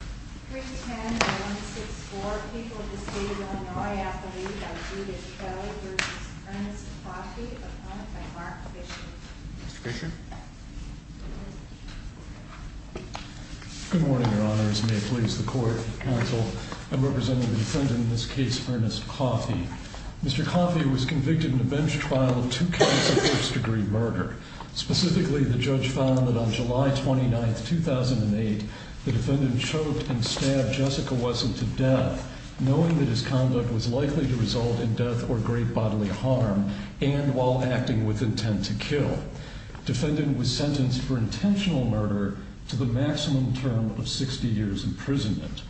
Mr. Fisher? Good morning, Your Honors. May it please the Court, counsel. I'm representing the defendant in this case, Ernest Coffey. Mr. Coffey was convicted in a bench trial of two counts of first-degree murder. Specifically, the judge found that on July 29, 2008, the defendant choked and stabbed Jessica Wesson to death, knowing that his conduct was likely to result in death or great bodily harm, and while acting with intent to kill. The defendant was sentenced for intentional murder to the maximum term of 60 years imprisonment.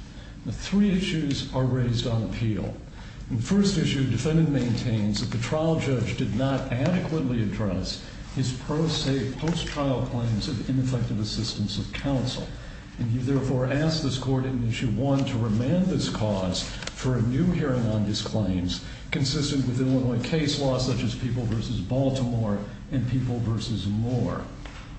Three issues are raised on appeal. In the first issue, the defendant maintains that the trial judge did not adequately address his post-trial claims of ineffective assistance of counsel. He therefore asked this Court in issue one to remand this cause for a new hearing on his claims, consistent with Illinois case law such as People v. Baltimore and People v. Moore.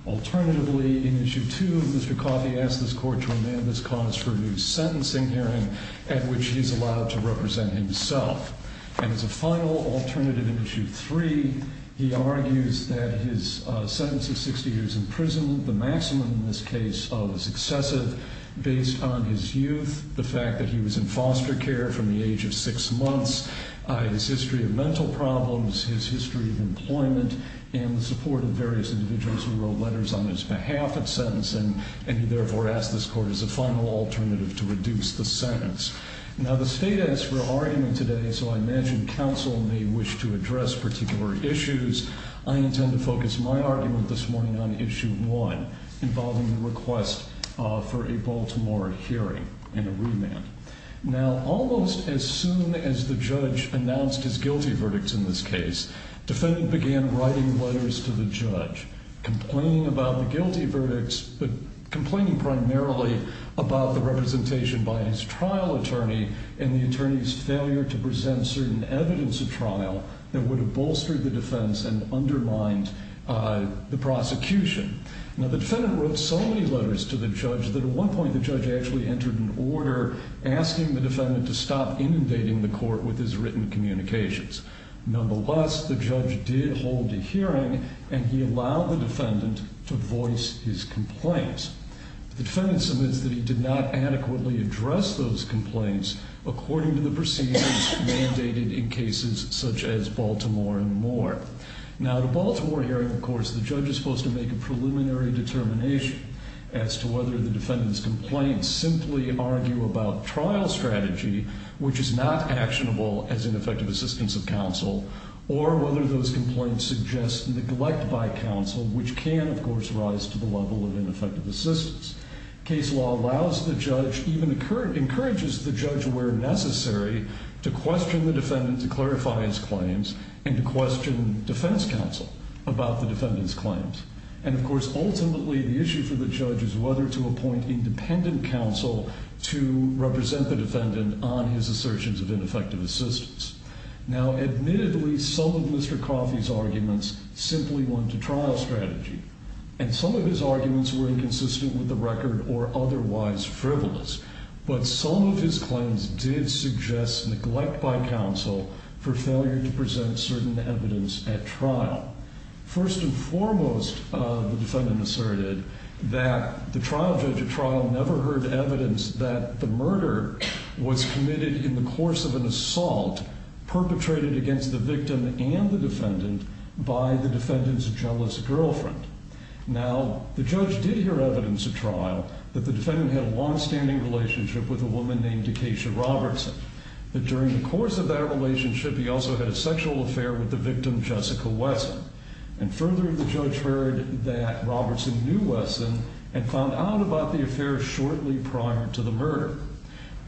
Alternatively, in issue two, Mr. Coffey asked this Court to remand this cause for a new sentencing hearing, at which he is allowed to represent himself. And as a final alternative in issue three, he argues that his sentence of 60 years in prison, the maximum in this case, was excessive based on his youth, the fact that he was in foster care from the age of six months, his history of mental problems, his history of employment, and the support of various individuals who wrote letters on his behalf at sentencing, and he therefore asked this Court as a final alternative to reduce the sentence. Now, the State asked for an argument today, so I imagine counsel may wish to address particular issues. I intend to focus my argument this morning on issue one, involving the request for a Baltimore hearing and a remand. Now, almost as soon as the judge announced his guilty verdicts in this case, the defendant began writing letters to the judge, complaining about the guilty verdicts, but complaining primarily about the representation by his trial attorney and the attorney's failure to present certain evidence of trial that would have bolstered the defense and undermined the prosecution. Now, the defendant wrote so many letters to the judge that at one point the judge actually entered an order asking the defendant to stop inundating the court with his written communications. Nonetheless, the judge did hold a hearing, and he allowed the defendant to voice his complaints. The defendant submits that he did not adequately address those complaints according to the proceedings mandated in cases such as Baltimore and more. Now, at a Baltimore hearing, of course, the judge is supposed to make a preliminary determination as to whether the defendant's complaints simply argue about trial strategy, which is not actionable as ineffective assistance of counsel, or whether those complaints suggest neglect by counsel, which can, of course, rise to the level of ineffective assistance. Case law allows the judge, even encourages the judge where necessary, to question the defendant to clarify his claims and to question defense counsel about the defendant's claims. And, of course, ultimately the issue for the judge is whether to appoint independent counsel to represent the defendant on his assertions of ineffective assistance. Now, admittedly, some of Mr. Coffey's arguments simply went to trial strategy, and some of his arguments were inconsistent with the record or otherwise frivolous, but some of his claims did suggest neglect by counsel for failure to present certain evidence at trial. First and foremost, the defendant asserted that the trial judge at trial never heard evidence that the murder was committed in the course of an assault perpetrated against the victim and the defendant by the defendant's jealous girlfriend. Now, the judge did hear evidence at trial that the defendant had a longstanding relationship with a woman named Dakesha Robertson, that during the course of that relationship, he also had a sexual affair with the victim, Jessica Wesson. And further, the judge heard that Robertson knew Wesson and found out about the affair shortly prior to the murder.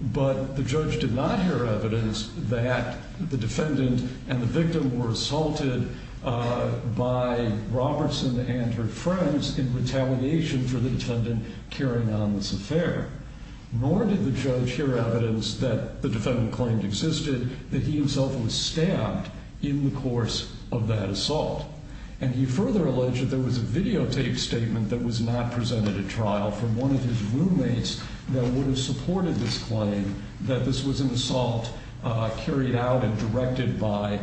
But the judge did not hear evidence that the defendant and the victim were assaulted by Robertson and her friends in retaliation for the defendant carrying on this affair. Nor did the judge hear evidence that the defendant claimed existed, that he himself was stabbed in the course of that assault. And he further alleged that there was a videotaped statement that was not presented at trial from one of his roommates that would have supported this claim, that this was an assault carried out and directed by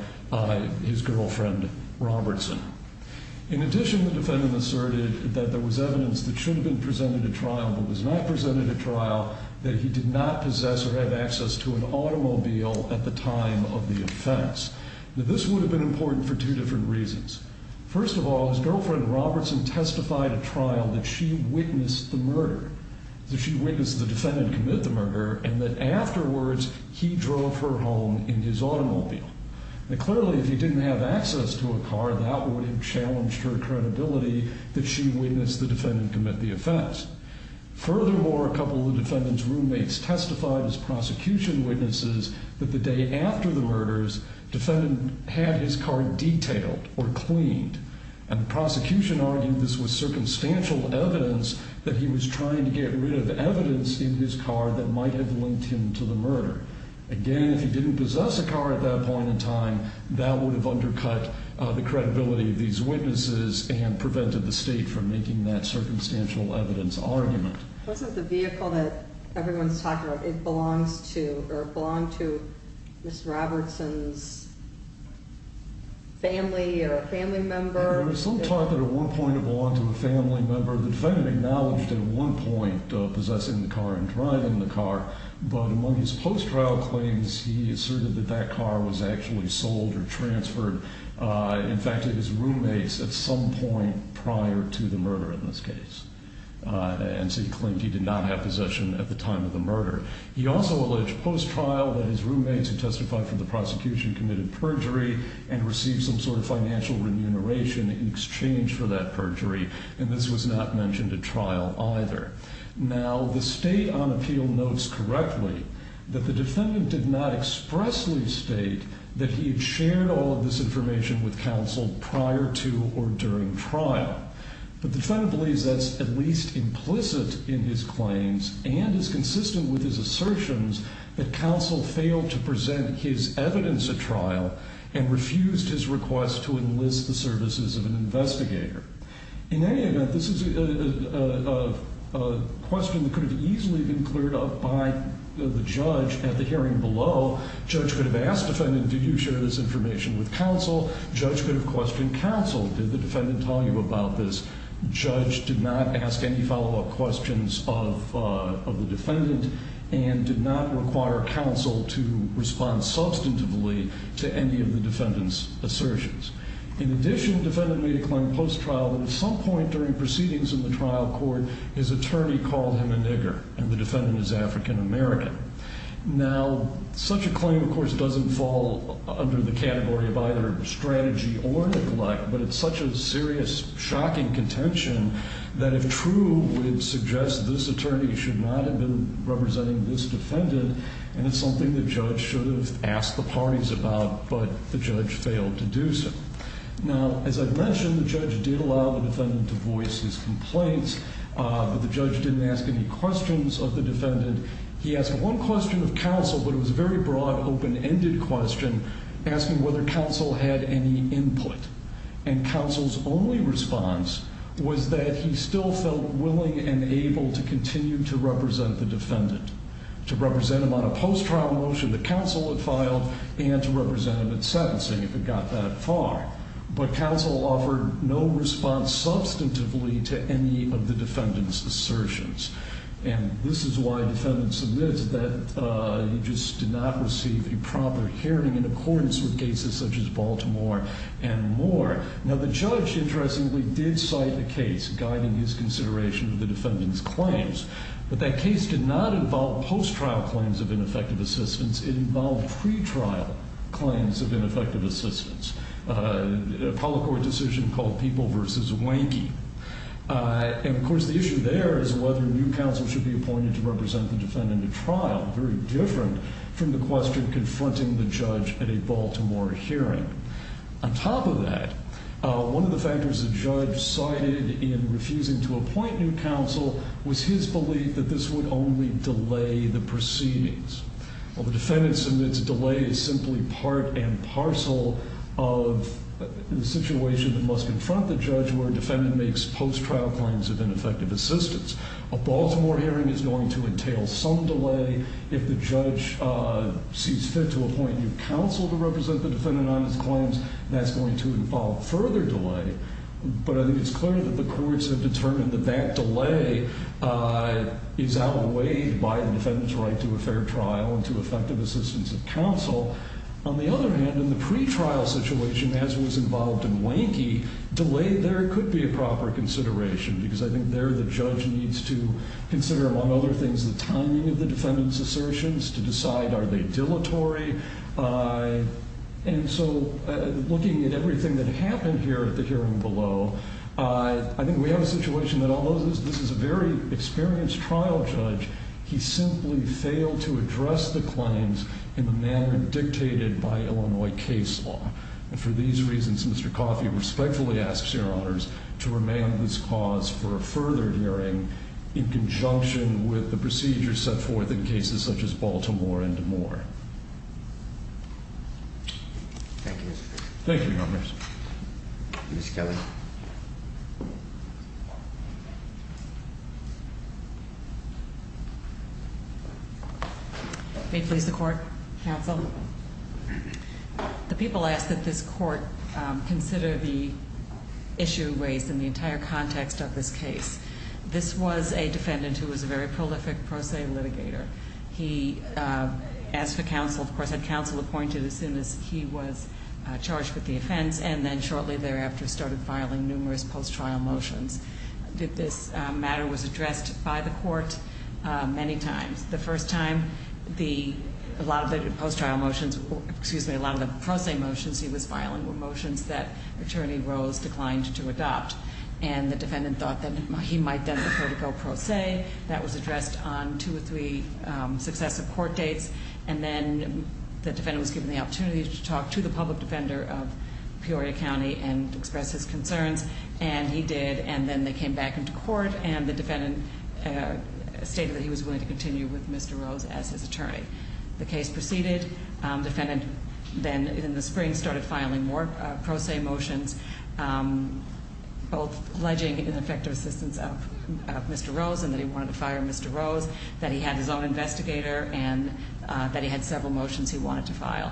his girlfriend, Robertson. In addition, the defendant asserted that there was evidence that should have been presented at trial but was not presented at trial, that he did not possess or have access to an automobile at the time of the offense. Now, this would have been important for two different reasons. First of all, his girlfriend, Robertson, testified at trial that she witnessed the murder, that she witnessed the defendant commit the murder, and that afterwards, he drove her home in his automobile. Now, clearly, if he didn't have access to a car, that would have challenged her credibility that she witnessed the defendant commit the offense. Furthermore, a couple of the defendant's roommates testified as prosecution witnesses that the day after the murders, the defendant had his car detailed or cleaned, and the prosecution argued this was circumstantial evidence that he was trying to get rid of evidence in his car that might have linked him to the murder. Again, if he didn't possess a car at that point in time, that would have undercut the credibility of these witnesses and prevented the state from making that circumstantial evidence argument. Wasn't the vehicle that everyone's talking about, it belonged to Ms. Robertson's family or a family member? There was some talk that at one point it belonged to a family member. The defendant acknowledged at one point possessing the car and driving the car, but among his post-trial claims, he asserted that that car was actually sold or transferred, in fact, to his roommates at some point prior to the murder in this case. And so he claimed he did not have possession at the time of the murder. He also alleged post-trial that his roommates who testified for the prosecution committed perjury and received some sort of financial remuneration in exchange for that perjury, and this was not mentioned at trial either. Now, the State on Appeal notes correctly that the defendant did not expressly state that he had shared all of this information with counsel prior to or during trial. But the defendant believes that's at least implicit in his claims and is consistent with his assertions that counsel failed to present his evidence at trial and refused his request to enlist the services of an investigator. In any event, this is a question that could have easily been cleared up by the judge at the hearing below. Judge could have asked the defendant, did you share this information with counsel? Judge could have questioned counsel. Did the defendant tell you about this? Judge did not ask any follow-up questions of the defendant and did not require counsel to respond substantively to any of the defendant's assertions. In addition, the defendant made a claim post-trial that at some point during proceedings in the trial court, his attorney called him a nigger, and the defendant is African American. Now, such a claim, of course, doesn't fall under the category of either strategy or neglect, but it's such a serious, shocking contention that if true, would suggest this attorney should not have been representing this defendant, and it's something the judge should have asked the parties about, but the judge failed to do so. Now, as I've mentioned, the judge did allow the defendant to voice his complaints, he asked one question of counsel, but it was a very broad, open-ended question, asking whether counsel had any input, and counsel's only response was that he still felt willing and able to continue to represent the defendant, to represent him on a post-trial motion that counsel had filed, and to represent him at sentencing if it got that far, but counsel offered no response substantively to any of the defendant's assertions, and this is why the defendant submits that he just did not receive a proper hearing in accordance with cases such as Baltimore and Moore. Now, the judge, interestingly, did cite a case guiding his consideration of the defendant's claims, but that case did not involve post-trial claims of ineffective assistance, it involved pre-trial claims of ineffective assistance, a public court decision called People v. Wanky, and, of course, the issue there is whether new counsel should be appointed to represent the defendant at trial, very different from the question confronting the judge at a Baltimore hearing. On top of that, one of the factors the judge cited in refusing to appoint new counsel was his belief that this would only delay the proceedings. Well, the defendant submits a delay as simply part and parcel of the situation that must confront the judge where a defendant makes post-trial claims of ineffective assistance. A Baltimore hearing is going to entail some delay. If the judge sees fit to appoint new counsel to represent the defendant on his claims, that's going to involve further delay, but I think it's clear that the courts have determined that that delay is outweighed by the defendant's right to a fair trial and to effective assistance of counsel. On the other hand, in the pre-trial situation, as was involved in Wanky, delay there could be a proper consideration because I think there the judge needs to consider, among other things, the timing of the defendant's assertions to decide are they dilatory. And so looking at everything that happened here at the hearing below, I think we have a situation that although this is a very experienced trial judge, he simply failed to address the claims in the manner dictated by Illinois case law. And for these reasons, Mr. Coffey respectfully asks your honors to remain on this cause for a further hearing in conjunction with the procedures set forth in cases such as Baltimore and more. Thank you. Thank you, your honors. Ms. Kelly. May it please the court, counsel. The people asked that this court consider the issue raised in the entire context of this case. This was a defendant who was a very prolific pro se litigator. He asked for counsel, of course, had counsel appointed as soon as he was charged with the offense and then shortly thereafter started filing numerous post-trial motions. This matter was addressed by the court many times. The first time, a lot of the post-trial motions, excuse me, a lot of the pro se motions he was filing were motions that attorney Rose declined to adopt. And the defendant thought that he might then prefer to go pro se. That was addressed on two or three successive court dates. And then the defendant was given the opportunity to talk to the public defender of Peoria County and express his concerns, and he did. And then they came back into court, and the defendant stated that he was willing to continue with Mr. Rose as his attorney. The case proceeded. The defendant then in the spring started filing more pro se motions, both pledging ineffective assistance of Mr. Rose and that he wanted to fire Mr. Rose, that he had his own investigator, and that he had several motions he wanted to file.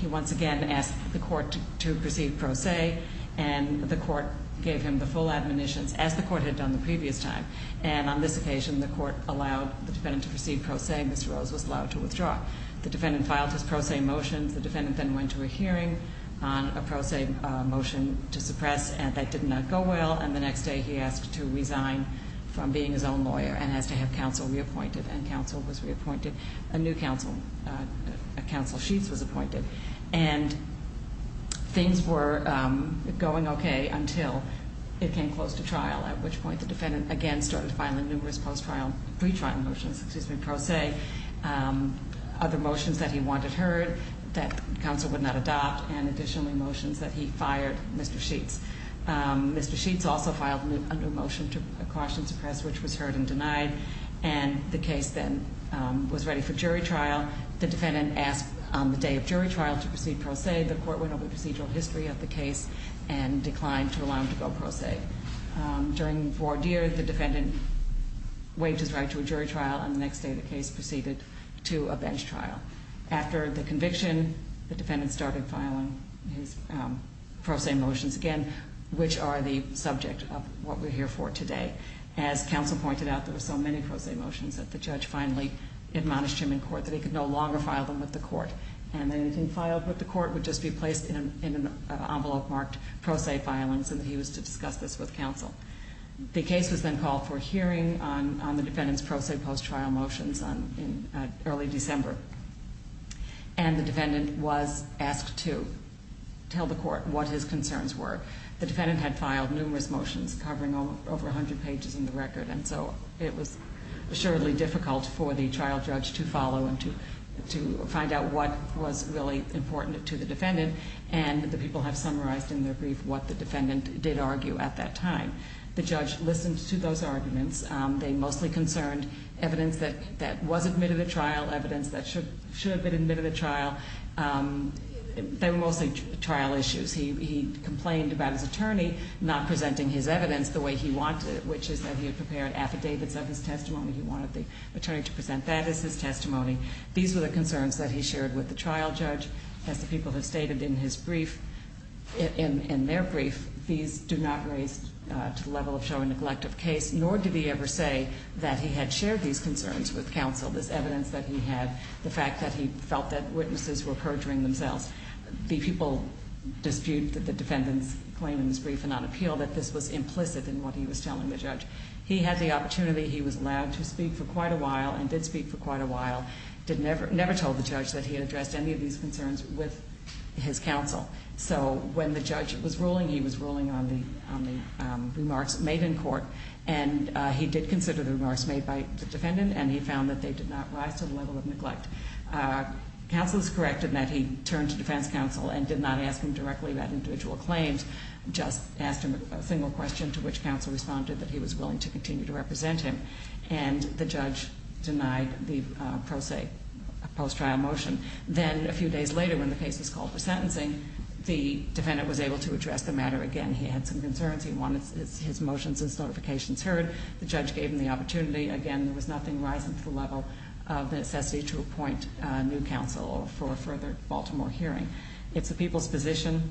He once again asked the court to proceed pro se, and the court gave him the full admonitions, as the court had done the previous time. And on this occasion, the court allowed the defendant to proceed pro se, and Mr. Rose was allowed to withdraw. The defendant filed his pro se motions. The defendant then went to a hearing on a pro se motion to suppress, and that did not go well. And the next day he asked to resign from being his own lawyer and has to have counsel reappointed, and counsel was reappointed. A new counsel, Counsel Sheets, was appointed. And things were going okay until it came close to trial, at which point the defendant again started filing numerous post-trial, pre-trial motions, excuse me, pro se, other motions that he wanted heard that counsel would not adopt, and additionally motions that he fired Mr. Sheets. Mr. Sheets also filed a new motion to caution, suppress, which was heard and denied, and the case then was ready for jury trial. The defendant asked on the day of jury trial to proceed pro se. The court went over the procedural history of the case and declined to allow him to go pro se. During voir dire, the defendant waived his right to a jury trial, and the next day the case proceeded to a bench trial. After the conviction, the defendant started filing his pro se motions again, which are the subject of what we're here for today. As counsel pointed out, there were so many pro se motions that the judge finally admonished him in court that he could no longer file them with the court, and anything filed with the court would just be placed in an envelope marked pro se filings, and he was to discuss this with counsel. The case was then called for hearing on the defendant's pro se post-trial motions in early December, and the defendant was asked to tell the court what his concerns were. The defendant had filed numerous motions covering over 100 pages in the record, and so it was surely difficult for the trial judge to follow and to find out what was really important to the defendant, and the people have summarized in their brief what the defendant did argue at that time. The judge listened to those arguments. They mostly concerned evidence that was admitted at trial, evidence that should have been admitted at trial. They were mostly trial issues. He complained about his attorney not presenting his evidence the way he wanted, which is that he had prepared affidavits of his testimony. He wanted the attorney to present that as his testimony. These were the concerns that he shared with the trial judge. As the people have stated in their brief, these do not raise to the level of showing neglect of case, nor did he ever say that he had shared these concerns with counsel, this evidence that he had, the fact that he felt that witnesses were perjuring themselves. The people dispute that the defendant's claim in his brief and on appeal, that this was implicit in what he was telling the judge. He had the opportunity. He was allowed to speak for quite a while and did speak for quite a while. He never told the judge that he had addressed any of these concerns with his counsel. So when the judge was ruling, he was ruling on the remarks made in court, and he did consider the remarks made by the defendant, and he found that they did not rise to the level of neglect. Counsel is correct in that he turned to defense counsel and did not ask him directly about individual claims, just asked him a single question to which counsel responded that he was willing to continue to represent him, and the judge denied the post-trial motion. Then a few days later when the case was called for sentencing, the defendant was able to address the matter again. He had some concerns. He wanted his motions and certifications heard. The judge gave him the opportunity. Again, there was nothing rising to the level of necessity to appoint new counsel for a further Baltimore hearing. It's the people's position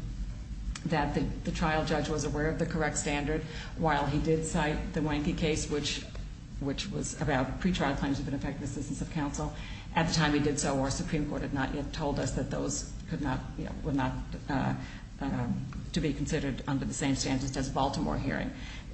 that the trial judge was aware of the correct standard while he did cite the Wanky case, which was about pretrial claims of ineffective assistance of counsel. At the time he did so, our Supreme Court had not yet told us that those could not, were not to be considered under the same standards as a Baltimore hearing.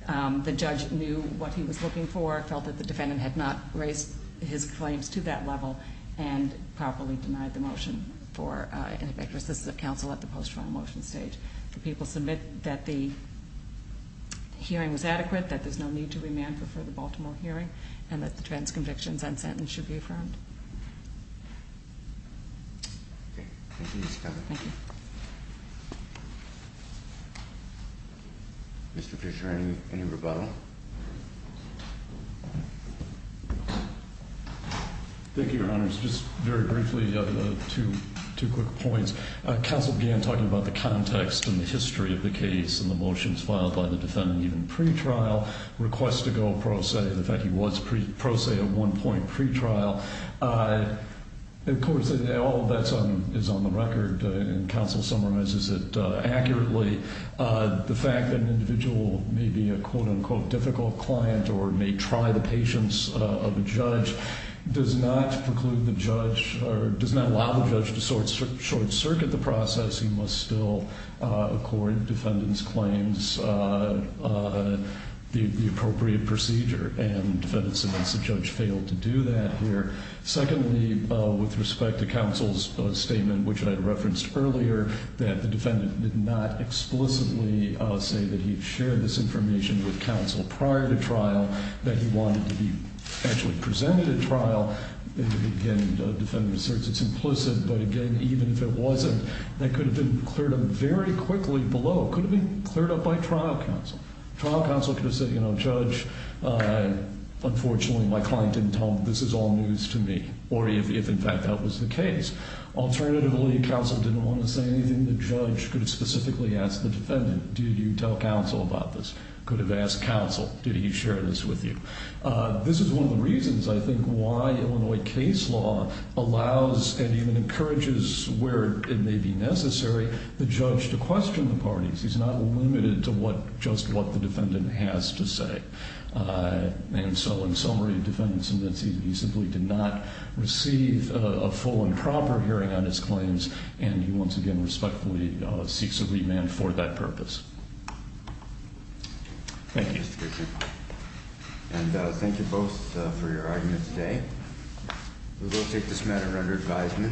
The judge knew what he was looking for, felt that the defendant had not raised his claims to that level, and properly denied the motion for ineffective assistance of counsel at the post-trial motion stage. The people submit that the hearing was adequate, that there's no need to remand for a further Baltimore hearing, and that the trans-convictions and sentence should be affirmed. Thank you, Ms. Scott. Thank you. Mr. Fisher, any rebuttal? Thank you, Your Honors. Just very briefly, two quick points. Counsel began talking about the context and the history of the case and the motions filed by the defendant even pretrial, request to go pro se, the fact he was pro se at one point pretrial. Of course, all of that is on the record, and counsel summarizes it accurately. The fact that an individual may be a quote-unquote difficult client or may try the patience of a judge does not preclude the judge or does not allow the judge to short circuit the process. He must still accord defendant's claims the appropriate procedure, and defendant submits the judge failed to do that here. Secondly, with respect to counsel's statement, which I referenced earlier, that the defendant did not explicitly say that he shared this information with counsel prior to trial, that he wanted to be actually presented at trial. Again, the defendant asserts it's implicit, but again, even if it wasn't, that could have been cleared up very quickly below. It could have been cleared up by trial counsel. Trial counsel could have said, you know, judge, unfortunately my client didn't tell me this is all news to me, or if in fact that was the case. Alternatively, counsel didn't want to say anything, the judge could have specifically asked the defendant, did you tell counsel about this? Could have asked counsel, did he share this with you? This is one of the reasons, I think, why Illinois case law allows and even encourages where it may be necessary the judge to question the parties. He's not limited to just what the defendant has to say. And so in summary, the defendant simply did not receive a full and proper hearing on his claims, and he once again respectfully seeks a remand for that purpose. Thank you. And thank you both for your argument today. We will take this matter under advisement.